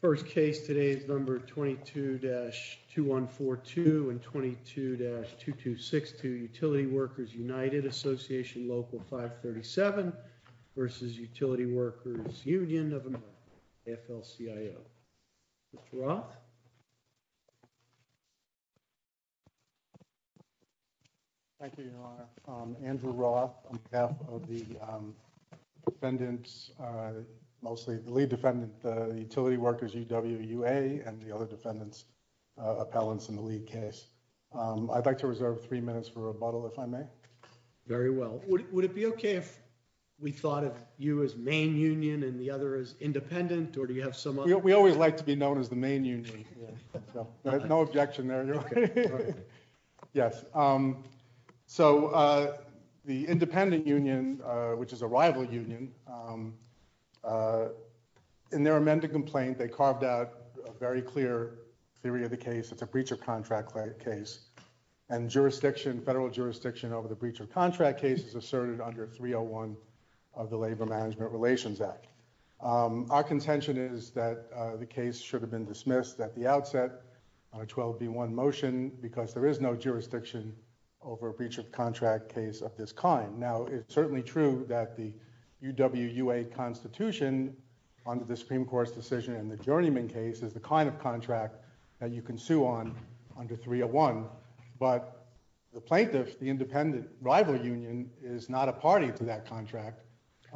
First case today is number 22-2142 and 22-2262 Utility Workers United Association Local 537 v. Utility Workers Union of America, AFL-CIO. Mr. Roth? Thank you, Your Honor. Andrew Roth on behalf of the Utility Workers UWA and the other defendants, appellants in the lead case. I'd like to reserve three minutes for rebuttal, if I may. Very well. Would it be okay if we thought of you as main union and the other as independent, or do you have some other... We always like to be known as the main union. No objection there, Your Honor. Okay. Yes. So the independent union, which is a rival union, in their amended complaint, they carved out a very clear theory of the case. It's a breach of contract case, and jurisdiction, federal jurisdiction over the breach of contract case is asserted under 301 of the Labor Management Relations Act. Our contention is that the case should have been dismissed at the outset on a 12B1 motion because there is no jurisdiction over a breach of contract case of this kind. Now, it's certainly true that the UWUA constitution under the Supreme Court's decision in the Journeyman case is the kind of contract that you can sue on under 301, but the plaintiff, the independent rival union, is not a party to that contract.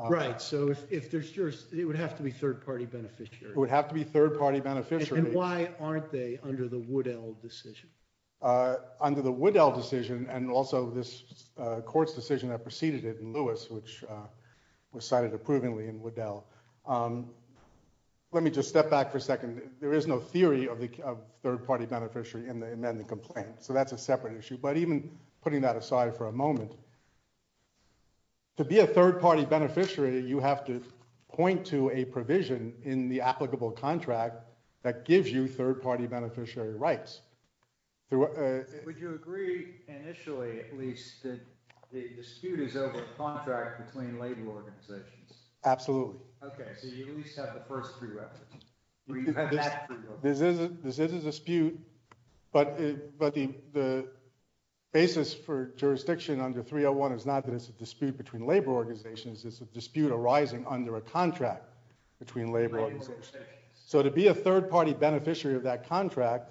Right. So if there's jurisdiction, it would have to be third-party beneficiary. It would have to be third-party beneficiary. And why aren't they under the Woodell decision? Under the Woodell decision and also this court's decision that preceded it in Lewis, which was cited approvingly in Woodell. Let me just step back for a second. There is no theory of third-party beneficiary in the amended complaint, so that's a separate issue. But even putting that aside for a moment, to be a third-party beneficiary, you have to point to a provision in the applicable contract that gives you third-party beneficiary rights. Would you agree initially at least that the dispute is over a contract between label organizations? Absolutely. Okay, so you at least have the first three references. This is a dispute, but the basis for jurisdiction under 301 is not that it's a dispute between labor organizations, it's a dispute arising under a contract between labor organizations. So to be a third-party beneficiary of that contract,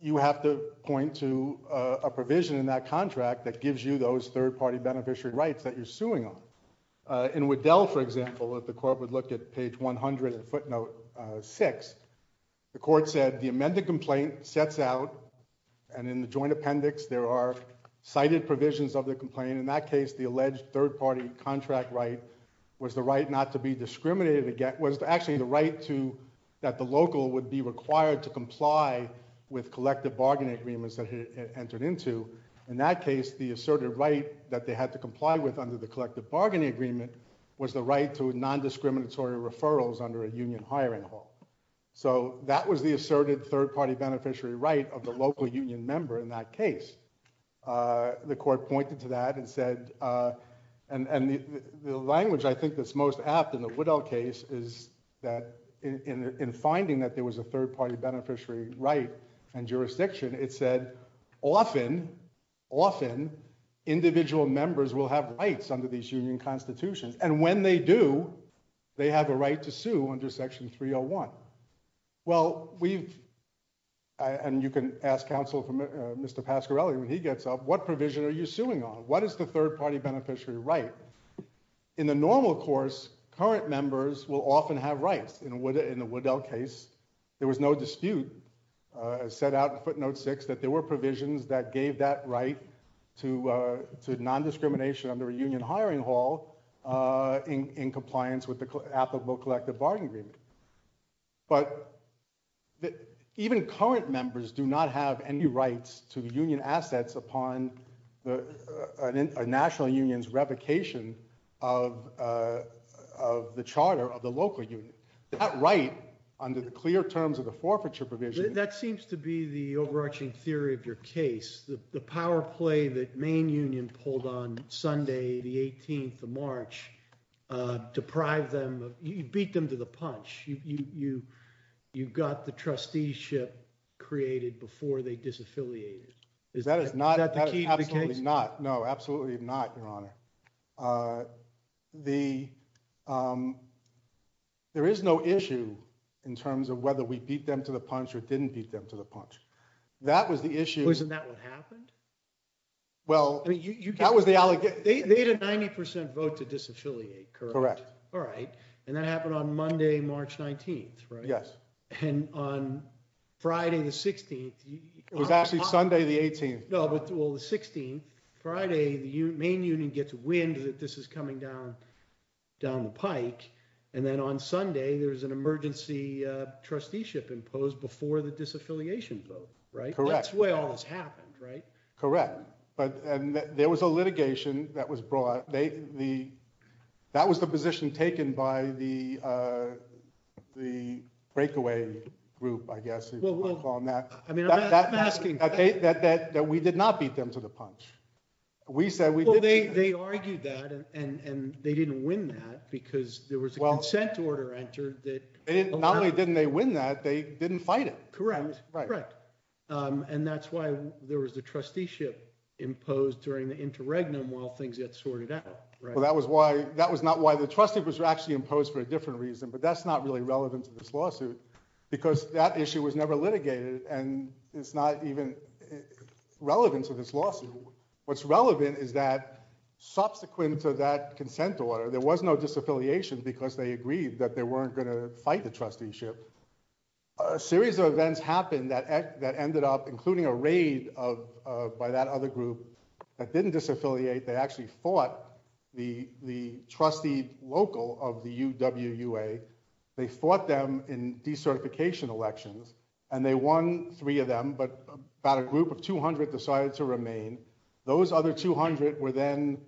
you have to point to a provision in that contract that gives you those third-party beneficiary rights that you're suing them. In Woodell, for example, if the court would look at page 100 and footnote 6, the court said the amended complaint sets out, and in the joint provisions of the complaint, in that case the alleged third-party contract right was the right not to be discriminated against, was actually the right to, that the local would be required to comply with collective bargaining agreements that it entered into. In that case, the asserted right that they had to comply with under the collective bargaining agreement was the right to non-discriminatory referrals under a union hiring law. So that was the asserted third-party beneficiary right of the local union member in that case. The court pointed to that and said, and the language I think that's most apt in the Woodell case is that in finding that there was a third-party beneficiary right and jurisdiction, it said often individual members will have rights under these union constitutions, and when they do, they have a right to sue under section 301. Well, we've, and you can ask counsel from Mr. Pasquarelli when he gets up, what provision are you suing on? What is the third-party beneficiary right? In the normal course, current members will often have rights. In the Woodell case, there was no dispute set out in footnote 6 that there were provisions that gave that right to non-discrimination under a union hiring law in compliance with the applicable collective bargaining agreement, but even current members do not have any rights to union assets upon a national union's revocation of the charter of the local union. That right under the clear terms of the forfeiture provision... That seems to be the overarching theory of your case. The power play that Maine Union pulled on Sunday the 18th of March deprived them, you beat them to the punch. You got the trusteeship created before they disaffiliated. Is that the key to the case? That is absolutely not, no, absolutely not, your honor. There is no issue in terms of whether we beat them to the punch or didn't beat them to the punch. That was the issue. Wasn't that what happened? Well, that was the allegation. They had a 90% vote to disaffiliate, correct? Correct. All right, and that happened on Monday, March 19th, right? Yes. And on Friday the 16th... It was actually Sunday the 18th. No, well, the 16th, Friday, the Maine Union gets wind that this is coming down the pike, and then on Sunday, there was an emergency trusteeship imposed before the disaffiliation vote, right? That's where all this happened, right? Correct, but there was a litigation that was brought. That was the position taken by the breakaway group, I guess, if you want to call them that. I mean, I'm asking... That we did not beat them to the punch. We said... Well, they argued that, and they didn't win that because there was a consent order entered that... Not only didn't they win that, they didn't fight it. Correct, and that's why there was the trusteeship imposed during the interregnum while things get sorted out, right? Well, that was not why the trusteeship was actually imposed for a different reason, but that's not really relevant to this lawsuit because that issue was never litigated, and it's not even relevant to this lawsuit. What's relevant is that subsequent to that consent order, there was no disaffiliation because they agreed that they weren't going to fight the trusteeship. A series of events happened that ended up including a raid by that other group that didn't disaffiliate. They actually fought the trustee local of the UWUA. They fought them in decertification elections, and they won three of them, but about a group of 200 decided to remain. Those other 200 were then...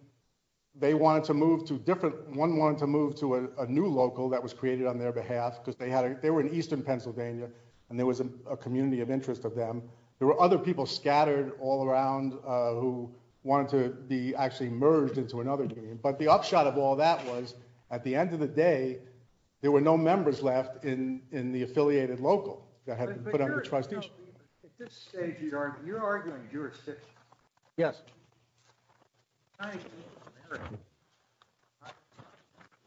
They wanted to move to different... One wanted to move to a new local that was created on their behalf because they were in Eastern Pennsylvania, and there was a community of interest of them. There were other people scattered all around who wanted to be actually merged into another community, but the upshot of all that was at the end of the day, there were no members left in the affiliated local that had been put on the trusteeship. But at this stage, you're arguing jurisdiction. Yes.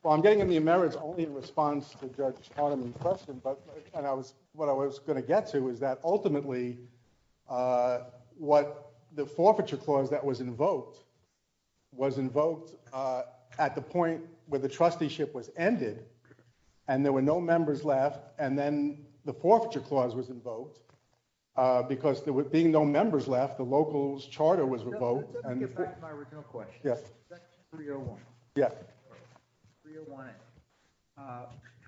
Well, I'm getting into your merits only in response to Judge Auterman's question, but what I was going to get to is that ultimately, what the forfeiture clause that was invoked was invoked at the point where the trusteeship was ended, and there were no members left, and then the forfeiture clause was invoked because there would be no members left, the local's charter was revoked. Let me get back to my original question. Yes. Section 301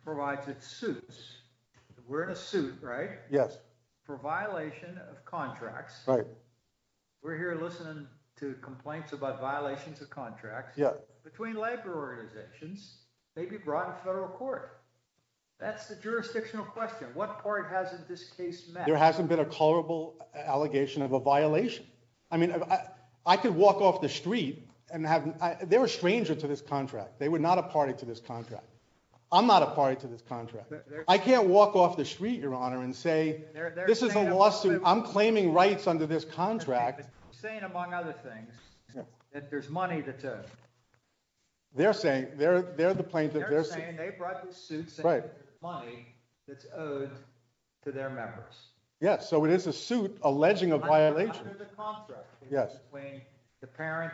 provides its suits. We're in a suit, right? Yes. For violation of contracts. Right. We're here listening to complaints about violations of contracts. Yeah. Between labor organizations, maybe brought to federal court. That's the jurisdictional question. What part hasn't this case met? There hasn't been a colorable allegation of a violation. I mean, I could walk off the street and have... They're a stranger to this contract. They were not a party to this contract. I'm not a party to this contract. I can't walk off the street, Your Honor, and say, this is a lawsuit. I'm claiming rights under this contract. Saying, among other things, that there's money that's owed. They're saying, they're the plaintiff. They're saying they brought the suits and money that's owed to their members. Yes. So it is a suit alleging a violation. Under the contract. Yes. Between the parent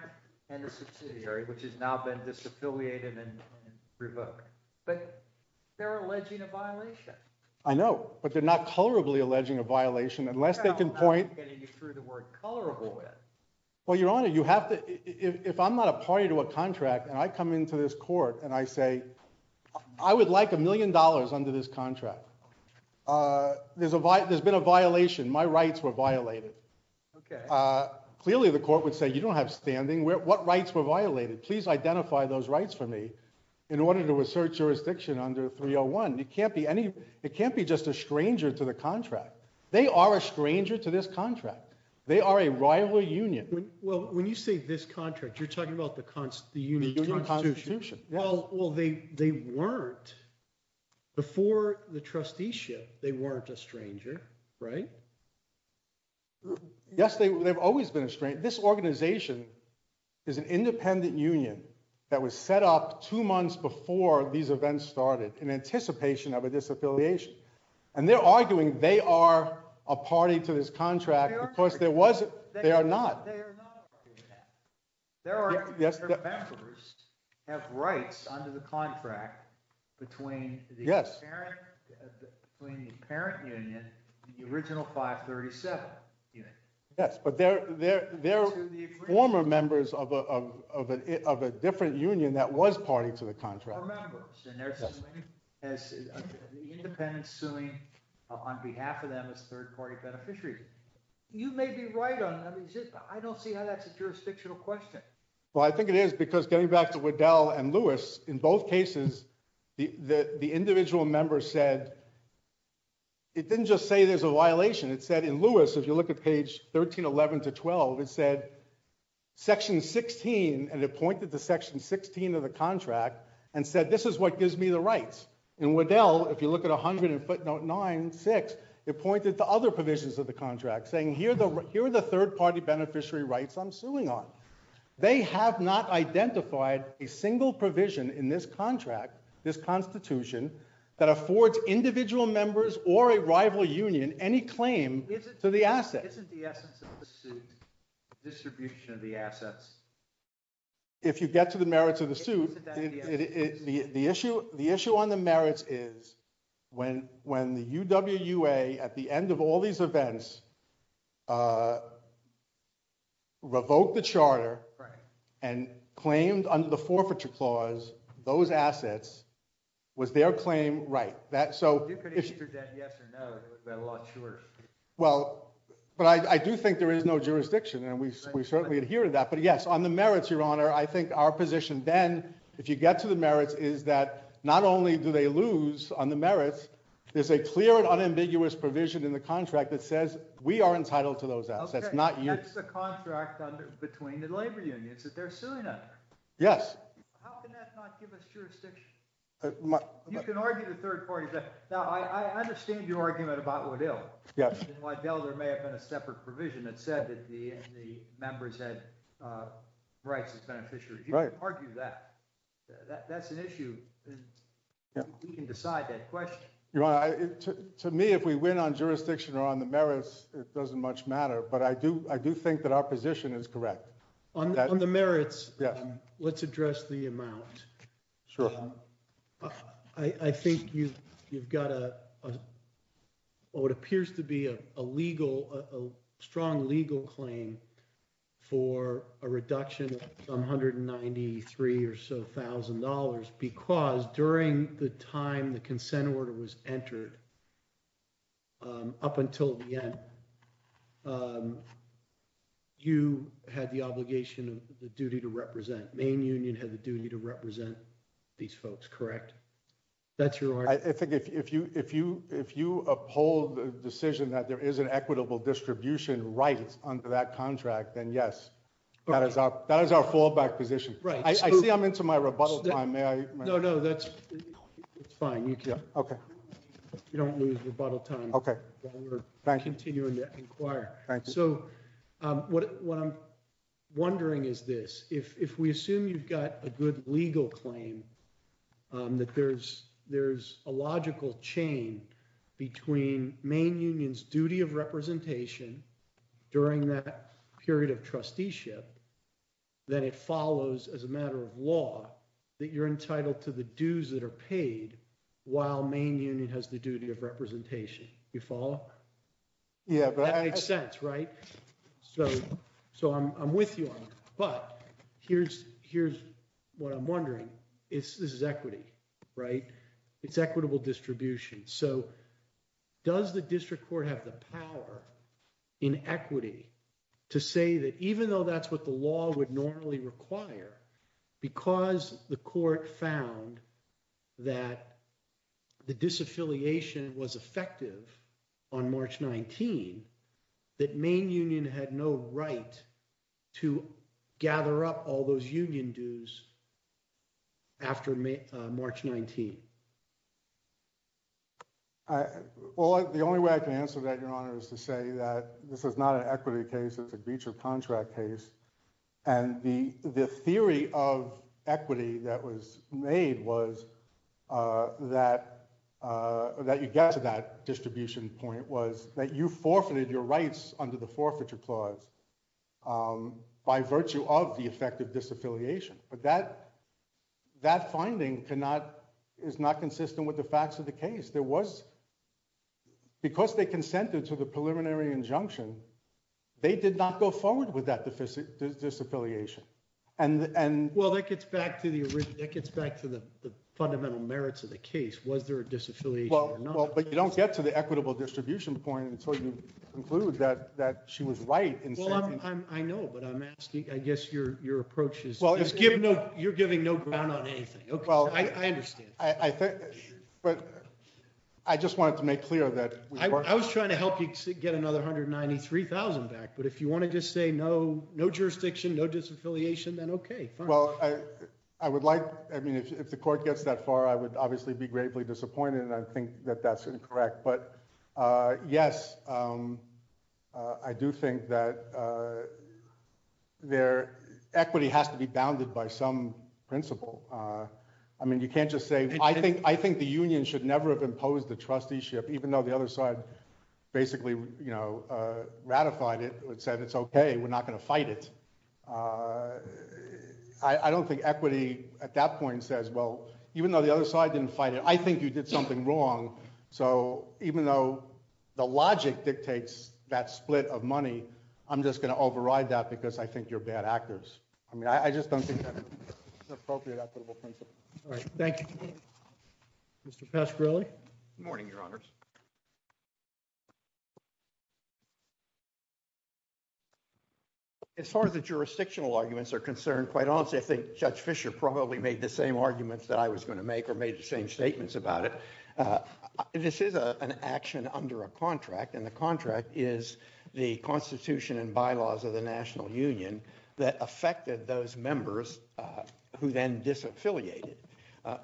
and the subsidiary, which has now been disaffiliated and revoked. But they're alleging a violation. I know, but they're not colorably alleging a violation unless they can point... I'm not getting you through the word colorable with. Well, Your Honor, you have to... If I'm not a party to a contract and I come into this court and I say, I would like a million dollars under this contract. There's been a violation. My rights were violated. Okay. Clearly, the court would say, you don't have standing. What rights were violated? Please identify those rights for me in order to assert jurisdiction under 301. It can't be just a stranger to the contract. They are a stranger to this contract. They are a rival union. Well, when you say this contract, you're talking about the union constitution. Well, they weren't. Before the trusteeship, they weren't a stranger, right? Yes, they've always been a stranger. This organization is an independent union that was set up two months before these events started in anticipation of a disaffiliation. And they're arguing they are a party to this contract because they are not. Their members have rights under the contract between the parent union and the original 537. Yes, but they're former members of a different union that was party to the contract. And they're independent suing on behalf of them as third-party beneficiaries. You may be right on that. I don't see how that's a jurisdictional question. Well, I think it is because getting back to Waddell and Lewis, in both cases, the individual member said, it didn't just say there's a violation. It said in Lewis, if you look at page 1311 to 12, it said, section 16, and it pointed to section 16 of the contract and said, this is what gives me the rights. In Waddell, if you look at 100 in footnote 96, it pointed to other provisions of the contract, saying here are the third-party beneficiary rights I'm suing on. They have not identified a single provision in this contract, this constitution, that affords individual members or a rival union any claim to the asset. Isn't the essence of the suit the distribution of the assets? If you get to the merits of the suit, the issue on the merits is when the UWA, at the end of all these events, revoked the charter and claimed under the forfeiture clause those assets, was their claim right? So you could answer that yes or no, because we've got a lot shorter. Well, but I do think there is no jurisdiction, and we certainly adhere to that. But yes, on the merits, your honor, I think our position then, if you get to the merits, is that not only do they lose on the merits, there's a clear and unambiguous provision in the contract that says we are entitled to those assets, not you. That's the contract between the labor unions that they're suing under. Yes. How can that not give us jurisdiction? You can argue the third party. Now, I understand your argument about Waddell. Waddell, there may have been a separate provision that said that the members had rights as beneficiaries. You can argue that. That's an issue. We can decide that question. Your honor, to me, if we win on jurisdiction or on the merits, it doesn't much matter. But I do think that our position is correct. On the merits, let's address the amount. Sure. I think you've got what appears to be a strong legal claim for a reduction of $193,000 or so, because during the time the consent order was entered, up until the end, you had the obligation of the duty to represent. These folks, correct? That's your. I think if you uphold the decision that there is an equitable distribution rights under that contract, then yes, that is our fallback position. Right. I see I'm into my rebuttal time. May I? No, no, that's fine. OK. You don't lose rebuttal time. OK. Thank you. So what I'm wondering is this. If we assume you've got a good legal claim, that there's a logical chain between Maine Union's duty of representation during that period of trusteeship, then it follows as a matter of law that you're entitled to the dues that are paid while Maine Union has the duty of representation. You follow? Yeah. So I'm with you on that. But here's what I'm wondering. This is equity, right? It's equitable distribution. So does the district court have the power in equity to say that even though that's what the law would normally require, because the court found that the disaffiliation was effective on March 19, that Maine Union had no right to gather up all those union dues after March 19? Well, the only way I can answer that, Your Honor, is to say that this is not an equity case. It's a breach of contract case. And the theory of equity that was made was that you get to that distribution point was that you forfeited your rights under the forfeiture clause by virtue of the effective disaffiliation. But that finding is not consistent with the facts of the case. Because they consented to the preliminary injunction, they did not go forward with that disaffiliation. Well, that gets back to the fundamental merits of the case. Was there a disaffiliation or not? Well, but you don't get to the equitable distribution point until you conclude that she was right. I know, but I guess your approach is you're giving no ground on anything. OK, I understand. But I just wanted to make clear that— I was trying to help you get another $193,000 back. But if you wanted to say no jurisdiction, no disaffiliation, then OK, fine. Well, I would like—I mean, if the court gets that far, I would obviously be gravely disappointed. And I think that that's incorrect. But yes, I do think that equity has to be bounded by some principle. I mean, you can't just say—I think the union should never have imposed the trusteeship, even though the other side basically, you know, ratified it and said, it's OK, we're not going to fight it. I don't think equity at that point says, well, even though the other side didn't fight it, I think you did something wrong. So even though the logic dictates that split of money, I'm just going to override that because I think you're bad actors. I mean, I just don't think that's an appropriate equitable principle. All right, thank you. Mr. Pasquarelli? Good morning, Your Honors. As far as the jurisdictional arguments are concerned, quite honestly, I think Judge Fischer probably made the same arguments that I was going to make or made the same statements about it. This is an action under a contract, and the contract is the Constitution and bylaws of the National Union that affected those members who then disaffiliated.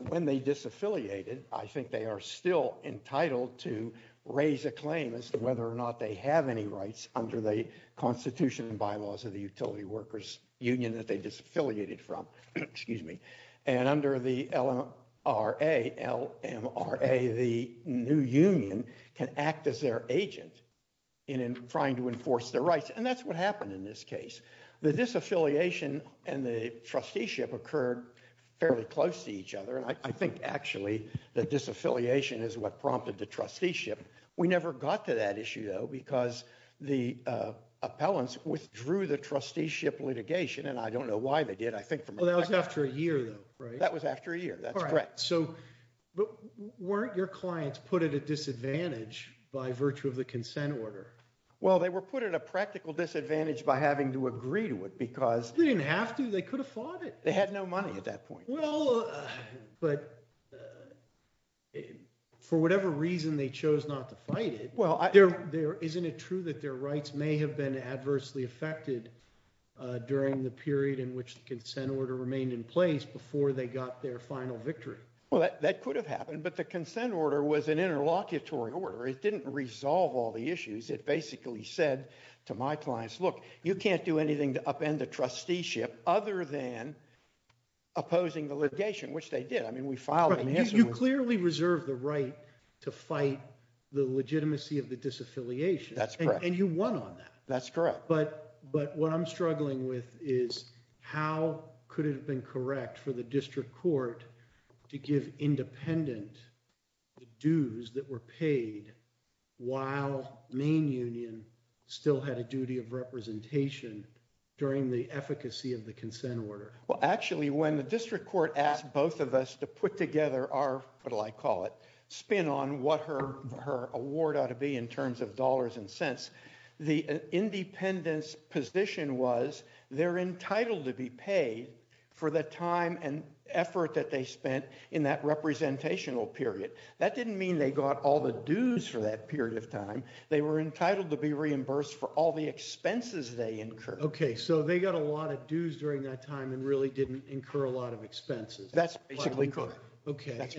When they disaffiliated, I think they are still entitled to raise a claim as to whether or not they have any rights under the Constitution and bylaws of the Utility Workers Union that they disaffiliated from. Excuse me. And under the LMRA, the new union can act as their agent in trying to enforce their rights. And that's what happened in this case. The disaffiliation and the trusteeship occurred fairly close to each other. And I think, actually, the disaffiliation is what prompted the trusteeship. We never got to that issue, though, because the appellants withdrew the trusteeship litigation. And I don't know why they did. I think that was after a year, though, right? That was after a year. That's correct. So weren't your clients put at a disadvantage by virtue of the consent order? Well, they were put at a practical disadvantage by having to agree to it because— They didn't have to. They could have fought it. They had no money at that point. Well, but for whatever reason they chose not to fight it, isn't it true that their rights may have been adversely affected during the period in which the consent order remained in place before they got their final victory? Well, that could have happened. But the consent order was an interlocutory order. It didn't resolve all the issues. It basically said to my clients, look, you can't do anything to upend the trusteeship other than opposing the litigation, which they did. I mean, we filed an answer. You clearly reserved the right to fight the legitimacy of the disaffiliation. That's correct. And you won on that. That's correct. But what I'm struggling with is how could it have been correct for the district court to give independent the dues that were paid while main union still had a duty of representation during the efficacy of the consent order? Well, actually, when the district court asked both of us to put together our—what do I call it—spin on what her award ought to be in terms of dollars and cents, the independent's was they're entitled to be paid for the time and effort that they spent in that representational period. That didn't mean they got all the dues for that period of time. They were entitled to be reimbursed for all the expenses they incurred. OK. So they got a lot of dues during that time and really didn't incur a lot of expenses. That's basically correct. OK.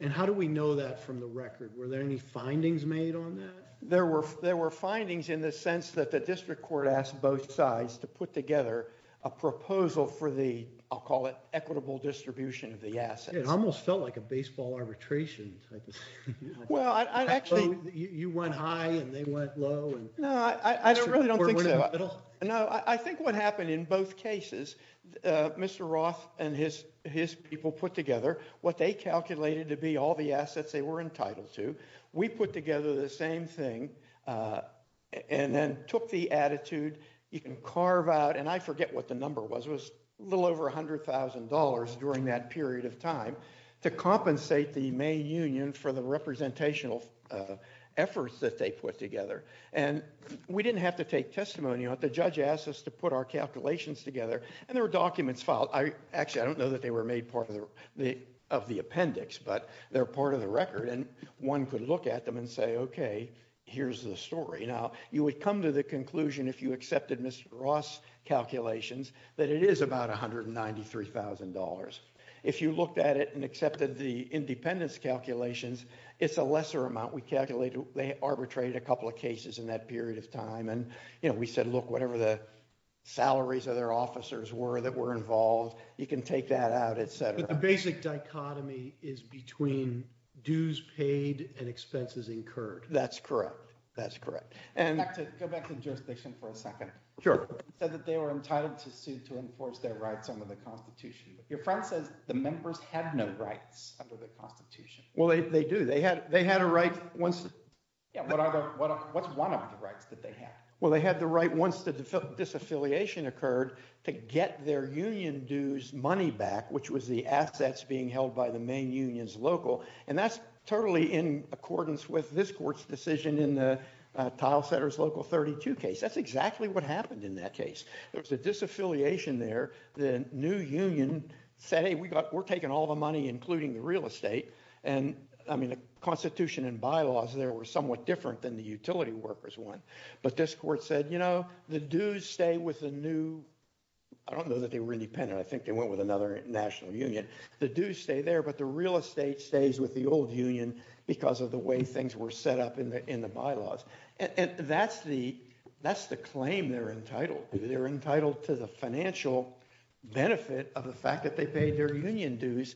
And how do we know that from the record? Were there any findings made on that? There were findings in the sense that the district court asked both sides to put together a proposal for the, I'll call it, equitable distribution of the assets. It almost felt like a baseball arbitration type of thing. Well, I'd actually— You went high and they went low and— No, I really don't think so. No, I think what happened in both cases, Mr. Roth and his people put together what they calculated to be all the assets they were entitled to. We put together the same thing and then took the attitude. You can carve out—and I forget what the number was. It was a little over $100,000 during that period of time to compensate the main union for the representational efforts that they put together. And we didn't have to take testimony on it. The judge asked us to put our calculations together and there were documents filed. Actually, I don't know that they were made part of the appendix, but they're part of the record. And one could look at them and say, okay, here's the story. Now, you would come to the conclusion, if you accepted Mr. Roth's calculations, that it is about $193,000. If you looked at it and accepted the independence calculations, it's a lesser amount. We calculated—they arbitrated a couple of cases in that period of time. And, you know, we said, look, whatever the salaries of their officers were that were involved, you can take that out, et cetera. The basic dichotomy is between dues paid and expenses incurred. That's correct. That's correct. Go back to the jurisdiction for a second. Sure. You said that they were entitled to sue to enforce their rights under the Constitution. Your friend says the members had no rights under the Constitution. Well, they do. They had a right once— What's one of the rights that they had? Well, they had the right once the disaffiliation occurred to get their union dues money back, which was the assets being held by the main union's local. And that's totally in accordance with this court's decision in the Tile Setters Local 32 case. That's exactly what happened in that case. There was a disaffiliation there. The new union said, hey, we're taking all the money, including the real estate. And, I mean, the Constitution and bylaws there were somewhat different than the utility workers one. But this court said, you know, the dues stay with the new—I don't know that they were independent. I think they went with another national union. The dues stay there, but the real estate stays with the old union because of the way things were set up in the bylaws. And that's the claim they're entitled to. They're entitled to the financial benefit of the fact that they paid their union dues,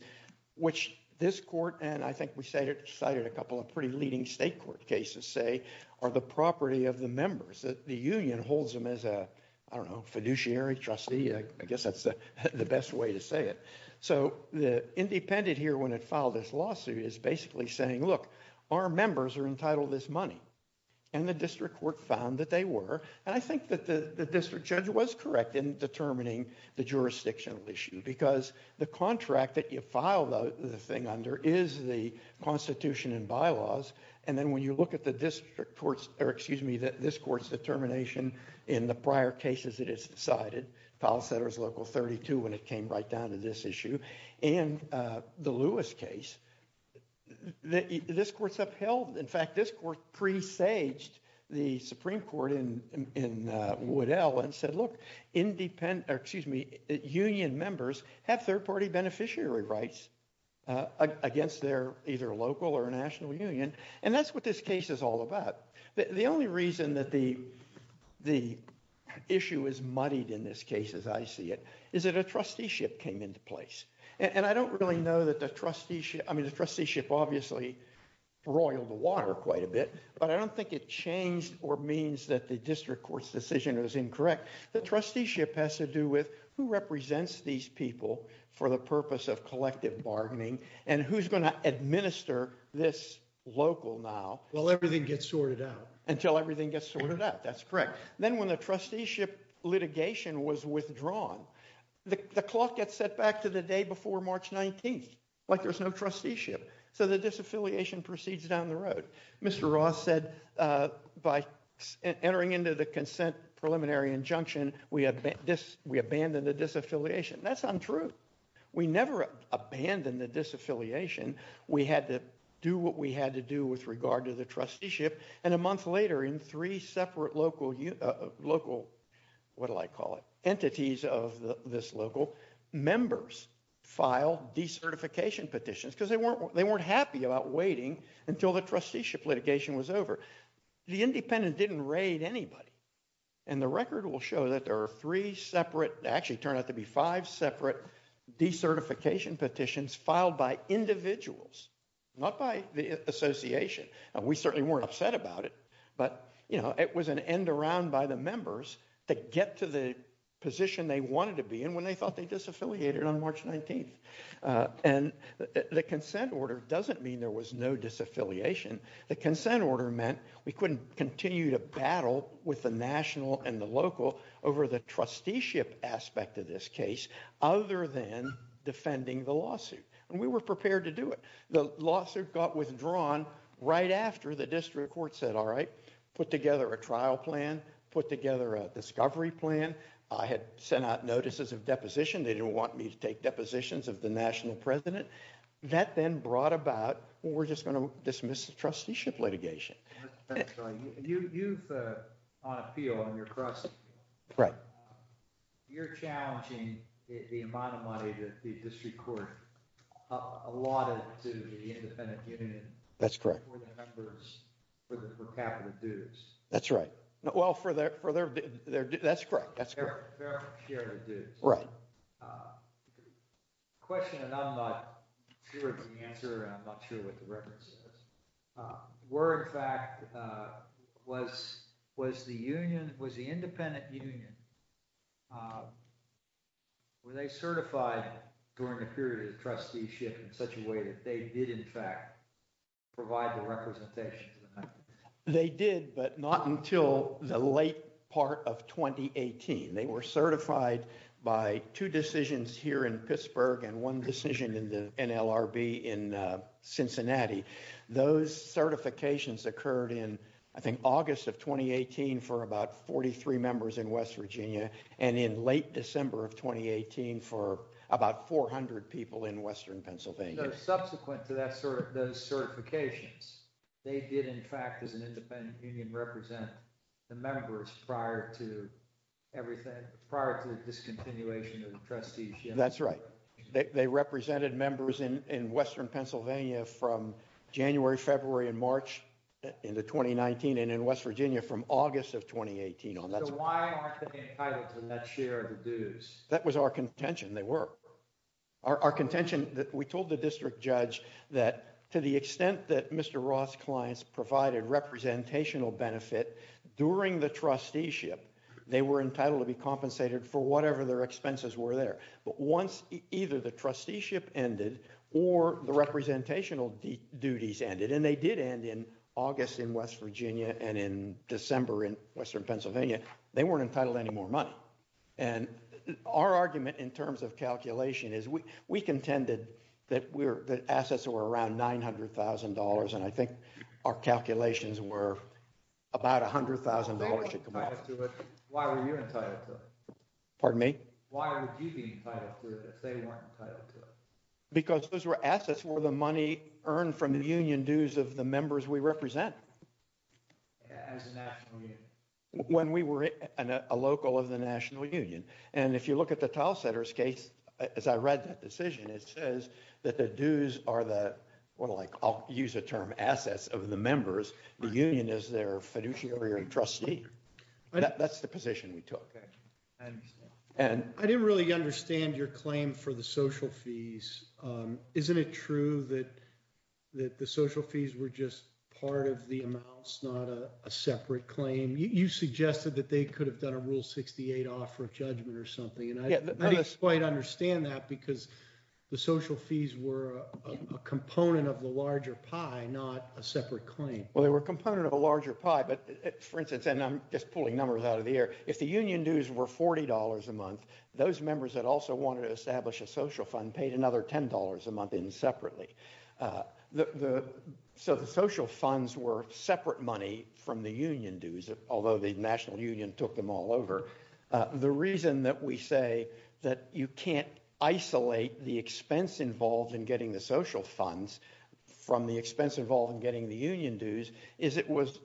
which this court and I think we cited a couple of pretty leading state court cases say are the property of the members. The union holds them as a, I don't know, fiduciary, trustee. I guess that's the best way to say it. So the independent here when it filed this lawsuit is basically saying, look, our members are entitled to this money. And the district court found that they were. And I think that the district judge was correct in determining the jurisdictional issue because the contract that you file the thing under is the Constitution and bylaws. And then when you look at the district court's, or excuse me, this court's determination in the prior cases that it's decided, file setter's local 32 when it came right down to this issue, and the Lewis case, this court's upheld. In fact, this court presaged the Supreme Court in Woodell and said, look, union members have third party beneficiary rights against their either local or national union. And that's what this case is all about. The only reason that the issue is muddied in this case, as I see it, is that a trusteeship came into place. And I don't really know that the trusteeship, I mean, the trusteeship obviously roiled the water quite a bit, but I don't think it changed or means that the district court's decision is incorrect. The trusteeship has to do with who represents these people for the purpose of collective bargaining and who's going to administer this local now. Well, everything gets sorted out. Until everything gets sorted out. That's correct. Then when the trusteeship litigation was withdrawn, the clock gets set back to the day before March 19th, like there's no trusteeship. So the disaffiliation proceeds down the road. Mr. Ross said by entering into the consent preliminary injunction, we abandoned the disaffiliation. That's untrue. We never abandoned the disaffiliation. We had to do what we had to do with regard to the trusteeship. And a month later, in three separate local, what do I call it, entities of this local, members filed decertification petitions because they weren't happy about waiting until the trusteeship litigation was over. The independent didn't raid anybody. And the record will show that there are three separate, actually turned out to be five separate decertification petitions filed by individuals, not by the association. We certainly weren't upset about it. But, you know, it was an end around by the members to get to the position they wanted to be in when they thought they disaffiliated on March 19th. And the consent order doesn't mean there was no disaffiliation. The consent order meant we couldn't continue to battle with the national and the local over the trusteeship aspect of this case other than defending the lawsuit. And we were prepared to do it. The lawsuit got withdrawn right after the district court said, all right, put together a trial plan, put together a discovery plan. I had sent out notices of deposition. They didn't want me to take depositions of the national president. That then brought about, well, we're just going to dismiss the trusteeship litigation. You've, on appeal, on your cross appeal, you're challenging the amount of money that the district court allotted to the independent union. That's correct. For the members, for capital dues. That's right. Well, for their, that's correct, that's correct. Their fair share of the dues. Right. Question that I'm not sure of the answer and I'm not sure what the record says. Were in fact, was the union, was the independent union, were they certified during the period of the trusteeship in such a way that they did in fact provide the representation? They did, but not until the late part of 2018. They were certified by two decisions here in Pittsburgh and one decision in the NLRB in Cincinnati. Those certifications occurred in, I think, August of 2018 for about 43 members in West Virginia and in late December of 2018 for about 400 people in Western Pennsylvania. Subsequent to those certifications, they did in fact, as an independent union, represent the members prior to everything, prior to the discontinuation of the trusteeship. That's right. They represented members in Western Pennsylvania from January, February, and March in the 2019 and in West Virginia from August of 2018. So why aren't they entitled to the net share of the dues? That was our contention, they were. Our contention, we told the district judge that to the extent that Mr. Roth's clients provided representational benefit during the trusteeship, they were entitled to be compensated for whatever their expenses were there. But once either the trusteeship ended or the representational duties ended, and they did end in August in West Virginia and in December in Western Pennsylvania, they weren't entitled to any more money. And our argument in terms of calculation is we contended that assets were around $900,000 and I think our calculations were about $100,000. If they weren't entitled to it, why were you entitled to it? Pardon me? Why would you be entitled to it if they weren't entitled to it? Because those were assets where the money earned from the union dues of the members we represented. As a national union. When we were a local of the national union. And if you look at the Tile Setters case, as I read that decision, it says that the dues are the, I'll use a term, assets of the members. The union is their fiduciary or trustee. That's the position we took. And I didn't really understand your claim for the social fees. Isn't it true that the social fees were just part of the amounts, not a separate claim? You suggested that they could have done a Rule 68 offer of judgment or something. And I didn't quite understand that because the social fees were a component of the larger pie, not a separate claim. Well, they were a component of a larger pie, but for instance, and I'm just pulling numbers out of the air. If the union dues were $40 a month, those members that also wanted to establish a social fund paid another $10 a month in separately. So the social funds were separate money from the union dues, although the national union took them all over. The reason that we say that you can't isolate the expense involved in getting the social funds from the expense involved in getting the union dues is it was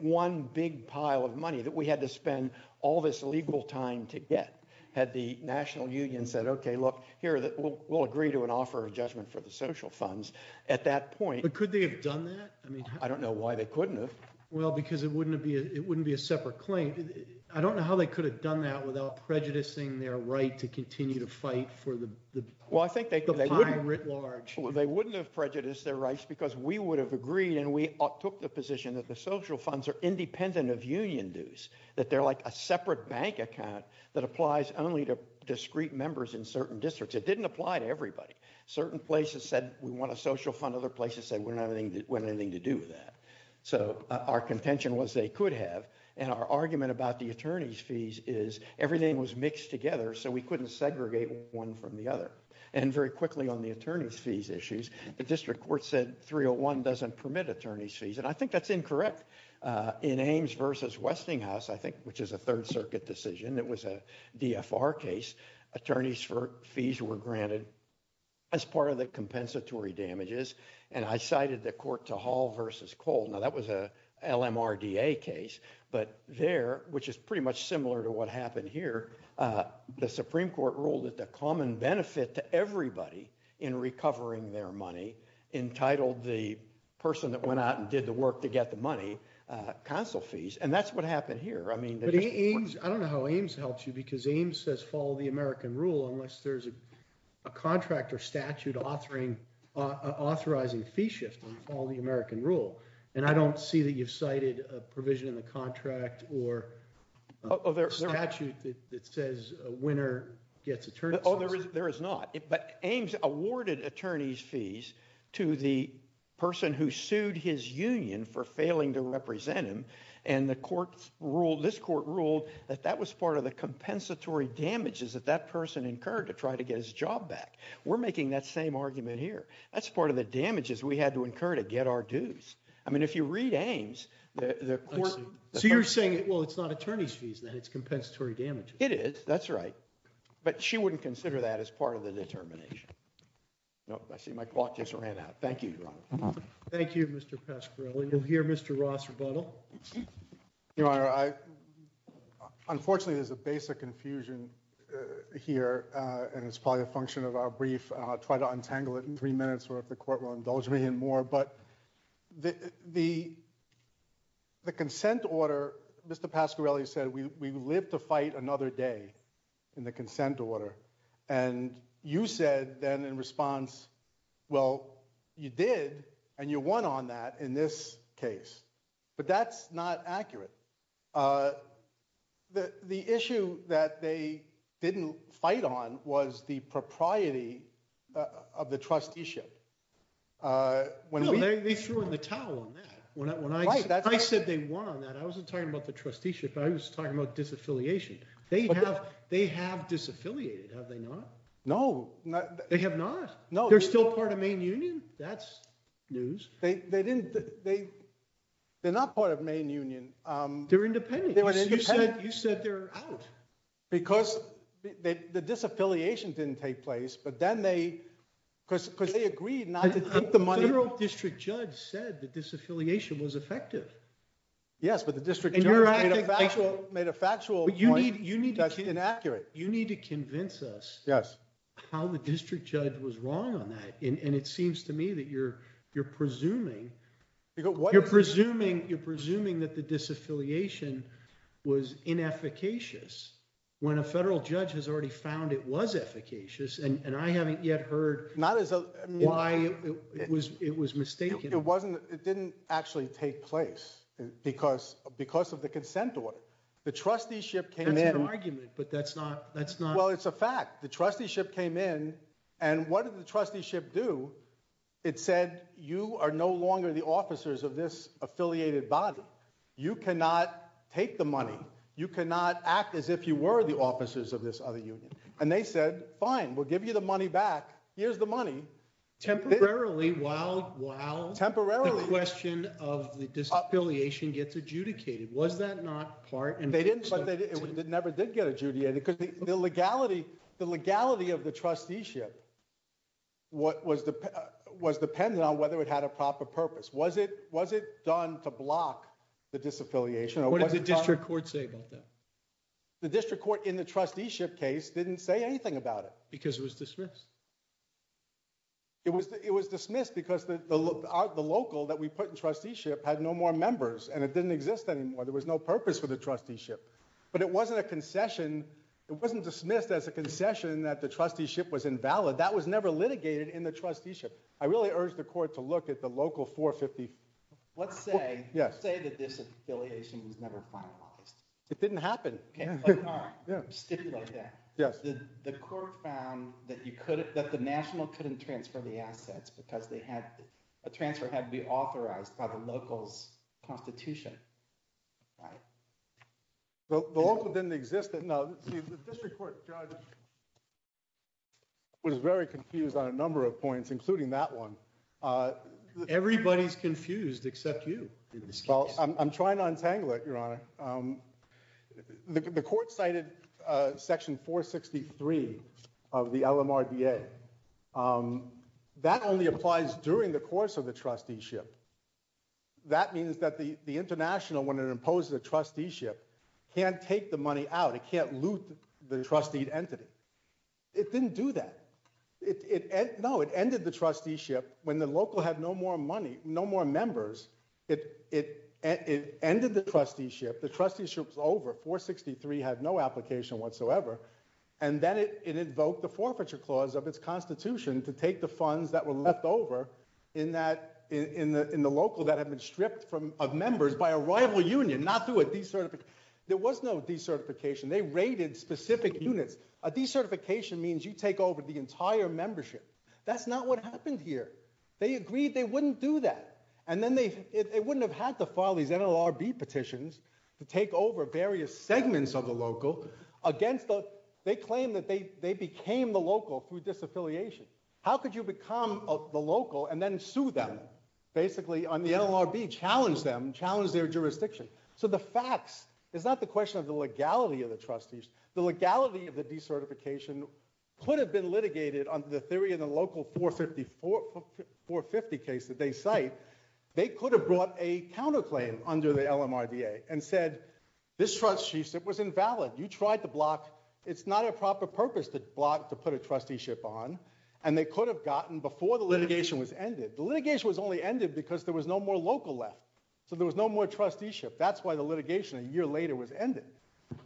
one big pile of money that we had to spend all this legal time to get. Had the national union said, OK, look, here, we'll agree to an offer of judgment for the social funds at that point. But could they have done that? I mean, I don't know why they couldn't have. Well, because it wouldn't be a separate claim. I don't know how they could have done that without prejudicing their right to continue to fight for the pie writ large. They wouldn't have prejudiced their rights because we would have agreed and we took the that they're like a separate bank account that applies only to discrete members in certain districts. It didn't apply to everybody. Certain places said we want a social fund. Other places said we don't have anything to do with that. So our contention was they could have. And our argument about the attorney's fees is everything was mixed together so we couldn't segregate one from the other. And very quickly on the attorney's fees issues, the district court said 301 doesn't permit attorney's fees. And I think that's incorrect. In Ames versus Westinghouse, I think, which is a Third Circuit decision, it was a DFR case. Attorneys fees were granted as part of the compensatory damages. And I cited the court to Hall versus Cole. Now, that was a LMRDA case. But there, which is pretty much similar to what happened here, the Supreme Court ruled that the common benefit to everybody in recovering their money entitled the person that went out and did the work to get the money, consul fees. And that's what happened here. I mean, I don't know how Ames helps you because Ames says follow the American rule unless there's a contract or statute authorizing fee shift and follow the American rule. And I don't see that you've cited a provision in the contract or a statute that says a winner gets attorney's fees. Oh, there is not. But Ames awarded attorney's fees to the person who sued his union for failing to represent him. And this court ruled that that was part of the compensatory damages that that person incurred to try to get his job back. We're making that same argument here. That's part of the damages we had to incur to get our dues. I mean, if you read Ames, the court— So you're saying, well, it's not attorney's fees then. It's compensatory damages. It is. That's right. But she wouldn't consider that as part of the determination. No, I see my clock just ran out. Thank you, Your Honor. Thank you, Mr. Pasquarelli. You'll hear Mr. Ross rebuttal. Your Honor, unfortunately, there's a basic confusion here, and it's probably a function of our brief. I'll try to untangle it in three minutes or if the court will indulge me in more. The consent order, Mr. Pasquarelli said, we live to fight another day in the consent order. And you said then in response, well, you did and you won on that in this case. But that's not accurate. The issue that they didn't fight on was the propriety of the trusteeship. No, they threw in the towel on that. I said they won on that. I wasn't talking about the trusteeship. I was talking about disaffiliation. They have disaffiliated, have they not? No. They have not? No. They're still part of Maine Union? That's news. They're not part of Maine Union. They're independent. You said they're out. Because the disaffiliation didn't take place. But then they, because they agreed not to take the money. The federal district judge said the disaffiliation was effective. Yes, but the district judge made a factual point that's inaccurate. You need to convince us how the district judge was wrong on that. And it seems to me that you're presuming that the disaffiliation was inefficacious. When a federal judge has already found it was efficacious. And I haven't yet heard why it was mistaken. It didn't actually take place because of the consent order. The trusteeship came in. That's an argument, but that's not. Well, it's a fact. The trusteeship came in. And what did the trusteeship do? It said you are no longer the officers of this affiliated body. You cannot take the money. You cannot act as if you were the officers of this other union. And they said, fine, we'll give you the money back. Here's the money. Temporarily, while the question of the disaffiliation gets adjudicated. Was that not part? And they didn't, but they never did get adjudicated. Because the legality of the trusteeship was dependent on whether it had a proper purpose. Was it done to block the disaffiliation? What did the district court say about that? The district court in the trusteeship case didn't say anything about it. Because it was dismissed. It was dismissed because the local that we put in trusteeship had no more members. And it didn't exist anymore. There was no purpose for the trusteeship. But it wasn't a concession. It wasn't dismissed as a concession that the trusteeship was invalid. That was never litigated in the trusteeship. I really urge the court to look at the local 450. Let's say that this affiliation was never finalized. It didn't happen. The court found that the national couldn't transfer the assets. Because a transfer had to be authorized by the local's constitution. The local didn't exist. Now, the district court judge was very confused on a number of points, including that one. Everybody's confused except you. I'm trying to untangle it, Your Honor. The court cited section 463 of the LMRDA. That only applies during the course of the trusteeship. That means that the international, when it imposes a trusteeship, can't take the money out. It can't loot the trustee entity. It didn't do that. No, it ended the trusteeship when the local had no more members. It ended the trusteeship. The trusteeship was over. 463 had no application whatsoever. And then it invoked the forfeiture clause of its constitution to take the funds that were left over in the local that had been stripped of members by a rival union, not through a decertification. There was no decertification. They rated specific units. A decertification means you take over the entire membership. That's not what happened here. They agreed they wouldn't do that. And then they wouldn't have had to file these NLRB petitions to take over various segments of the local. They claim that they became the local through disaffiliation. How could you become the local and then sue them, basically, on the NLRB, challenge them, challenge their jurisdiction? So the facts. It's not the question of the legality of the trustees. The legality of the decertification could have been litigated under the theory of the local 450 case that they cite. They could have brought a counterclaim under the LMRDA and said, this trusteeship was invalid. You tried to block. It's not a proper purpose to block to put a trusteeship on. And they could have gotten before the litigation was ended. The litigation was only ended because there was no more local left. So there was no more trusteeship. That's why the litigation a year later was ended.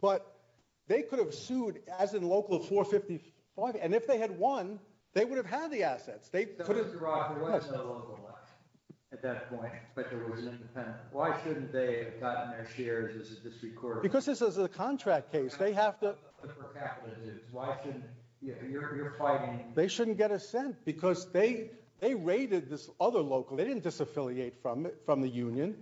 But they could have sued as in local 455. And if they had won, they would have had the assets. They could have. Mr. Rothman, what if there was no local left at that point, but there was an independent? Why shouldn't they have gotten their shares as a district court? Because this is a contract case. They have to. For capital issues. Why shouldn't, you're fighting. They shouldn't get a cent because they raided this other local. They didn't disaffiliate from the union.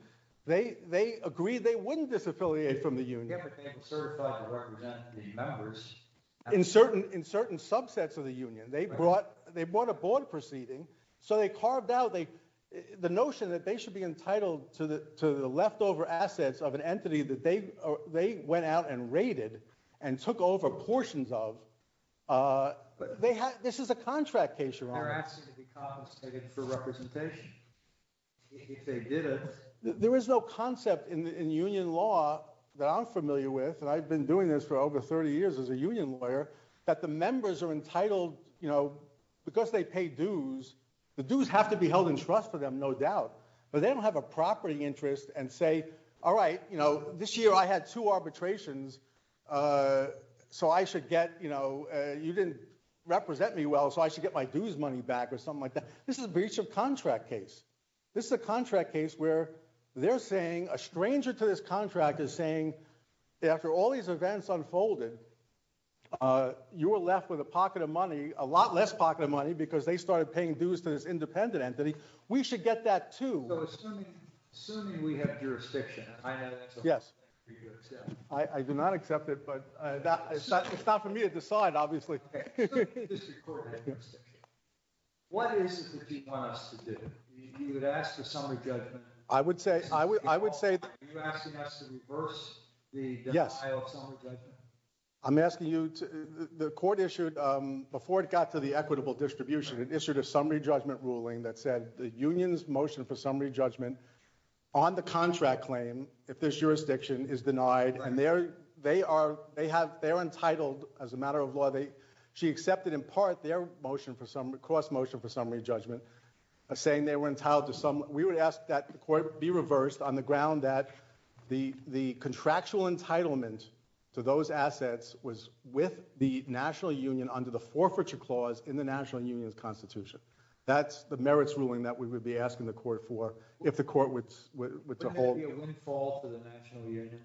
They agreed they wouldn't disaffiliate from the union. But they were certified to represent the members. In certain subsets of the union. They brought a board proceeding. So they carved out the notion that they should be entitled to the leftover assets of an entity that they went out and raided and took over portions of. This is a contract case, Your Honor. They're asking to be compensated for representation. If they didn't. There is no concept in union law that I'm familiar with. And I've been doing this for over 30 years as a union lawyer. That the members are entitled, you know, because they pay dues. The dues have to be held in trust for them, no doubt. But they don't have a property interest and say, all right, you know, this year I had two arbitrations. So I should get, you know, you didn't represent me well. So I should get my dues money back or something like that. This is breach of contract case. This is a contract case where they're saying, a stranger to this contract is saying, after all these events unfolded, you were left with a pocket of money, a lot less pocket of money, because they started paying dues to this independent entity. We should get that too. So assuming we have jurisdiction, I know that's something for you to accept. I do not accept it, but it's not for me to decide, obviously. What is it that you want us to do? You would ask for summary judgment. I would say, I would say. Are you asking us to reverse the denial of summary judgment? I'm asking you to, the court issued, before it got to the equitable distribution, it issued a summary judgment ruling that said the union's motion for summary judgment on the contract claim, if there's jurisdiction, is denied. And they're, they are, they have, they're entitled as a matter of law, they, she accepted in part their motion for summary, cross motion for summary judgment, saying they were entitled to some, we would ask that the court be reversed on the ground that the, the contractual entitlement to those assets was with the national union under the forfeiture clause in the national union's constitution. That's the merits ruling that we would be asking the court for, if the court would, would withhold. Wouldn't that be a windfall to the national union?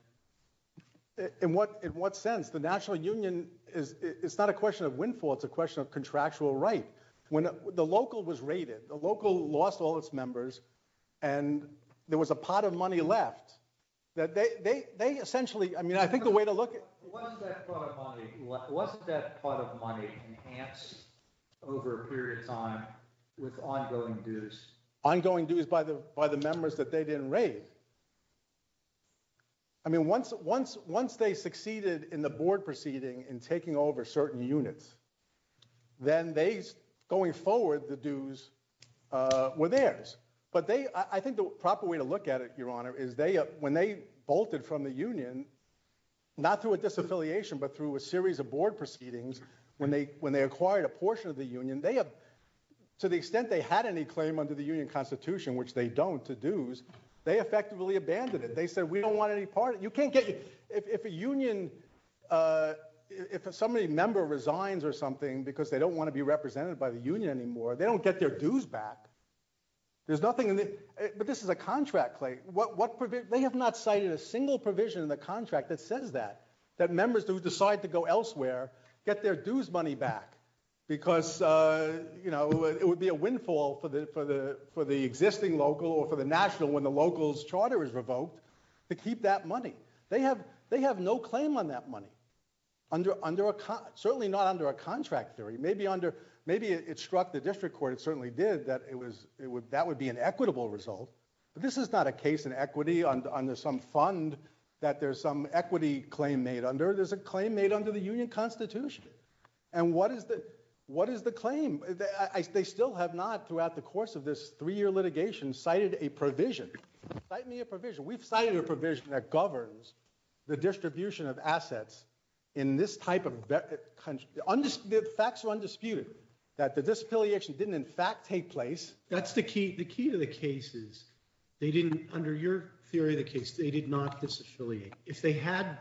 In what, in what sense? The national union is, it's not a question of windfall, it's a question of contractual right. When the local was raided, the local lost all its members, and there was a pot of money left, that they, they, they essentially, I mean, I think the way to look at. Wasn't that pot of money, wasn't that pot of money enhanced over a period of time with ongoing dues? Ongoing dues by the, by the members that they didn't raid. I mean, once, once, once they succeeded in the board proceeding in taking over certain units, then they, going forward, the dues were theirs. But they, I think the proper way to look at it, Your Honor, is they, when they bolted from the union, not through a disaffiliation, but through a series of board proceedings, when they, when they acquired a portion of the union, they have, to the extent they had any claim under the union constitution, which they don't, to dues, they affected their union, they effectively abandoned it. They said, we don't want any part, you can't get, if a union, if somebody member resigns or something because they don't want to be represented by the union anymore, they don't get their dues back. There's nothing in the, but this is a contract, Clay, what, what, they have not cited a single provision in the contract that says that, that members who decide to go elsewhere get their dues money back, because, you know, it would be a windfall for the, for the, for the national, when the local's charter is revoked, to keep that money. They have, they have no claim on that money, under, under a, certainly not under a contract theory, maybe under, maybe it struck the district court, it certainly did, that it was, it would, that would be an equitable result, but this is not a case in equity, under some fund, that there's some equity claim made under, there's a claim made under the union constitution. And what is the, what is the claim? They still have not, throughout the course of this three-year litigation, cited a provision. Cite me a provision. We've cited a provision that governs the distribution of assets in this type of country. Undisputed, facts are undisputed, that the disaffiliation didn't in fact take place. That's the key, the key to the case is, they didn't, under your theory of the case, they did not disaffiliate. If they had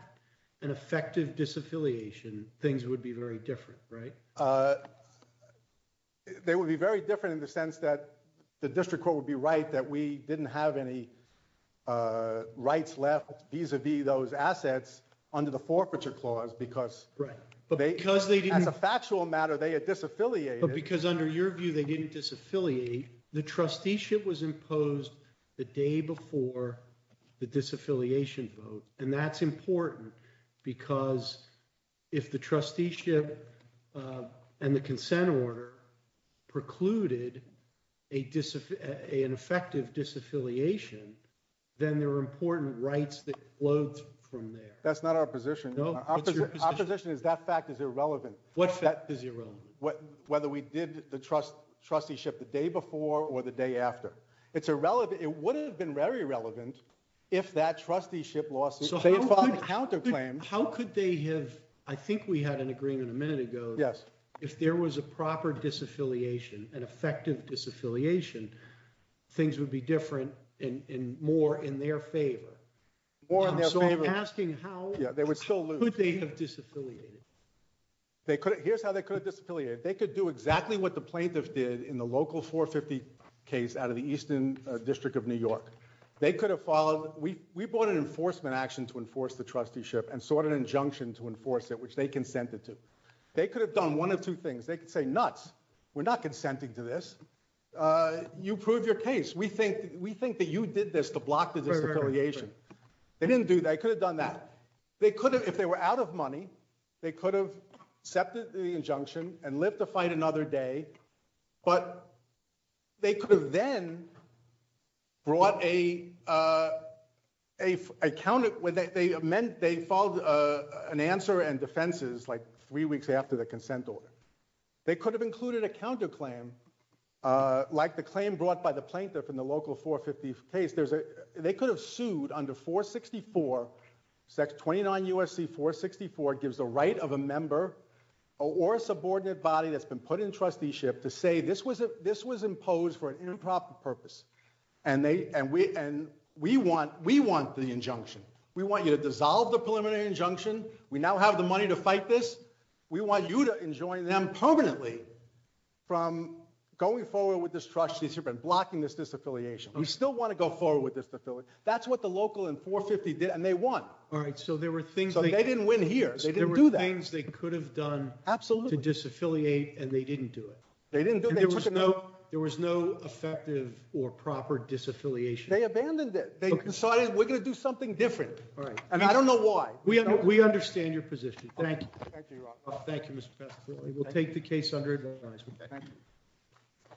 an effective disaffiliation, things would be very different, right? They would be very different in the sense that the district court would be right that we didn't have any rights left vis-a-vis those assets under the forfeiture clause, because. Right, but because they didn't. As a factual matter, they had disaffiliated. But because under your view, they didn't disaffiliate. The trusteeship was imposed the day before the disaffiliation vote. And that's important, because if the trusteeship and the consent order precluded an effective disaffiliation, then there were important rights that flowed from there. That's not our position. Our position is that fact is irrelevant. What fact is irrelevant? Whether we did the trusteeship the day before or the day after. It's irrelevant. It would have been very relevant if that trusteeship lost. How could they have, I think we had an agreement a minute ago. Yes. If there was a proper disaffiliation, an effective disaffiliation, things would be different and more in their favor. More in their favor. So I'm asking how could they have disaffiliated? Here's how they could have disaffiliated. They could do exactly what the plaintiff did in the local 450 case out of the Eastern District of New York. They could have followed. We brought an enforcement action to enforce the trusteeship and sought an injunction to enforce it, which they consented to. They could have done one of two things. They could say, nuts. We're not consenting to this. You prove your case. We think that you did this to block the disaffiliation. They didn't do that. They could have done that. They could have, if they were out of money, they could have accepted the injunction and lived to fight another day. But they could have then brought a counter, they followed an answer and defenses like three weeks after the consent order. They could have included a counterclaim like the claim brought by the plaintiff in the local 450 case. They could have sued under 464, 29 USC 464 gives the right of a member or a subordinate body that's been put in trusteeship to say this was imposed for an improper purpose. We want the injunction. We want you to dissolve the preliminary injunction. We now have the money to fight this. We want you to enjoin them permanently from going forward with this trusteeship and blocking this disaffiliation. We still want to go forward with this disaffiliation. That's what the local in 450 did and they won. All right. So there were things that they didn't win here. They didn't do that. There were things they could have done to disaffiliate and they didn't do it. They didn't do it. There was no effective or proper disaffiliation. They abandoned it. They decided we're going to do something different. All right. And I don't know why. We understand your position. Thank you. Thank you, Mr. We'll take the case under advisement. Thank you.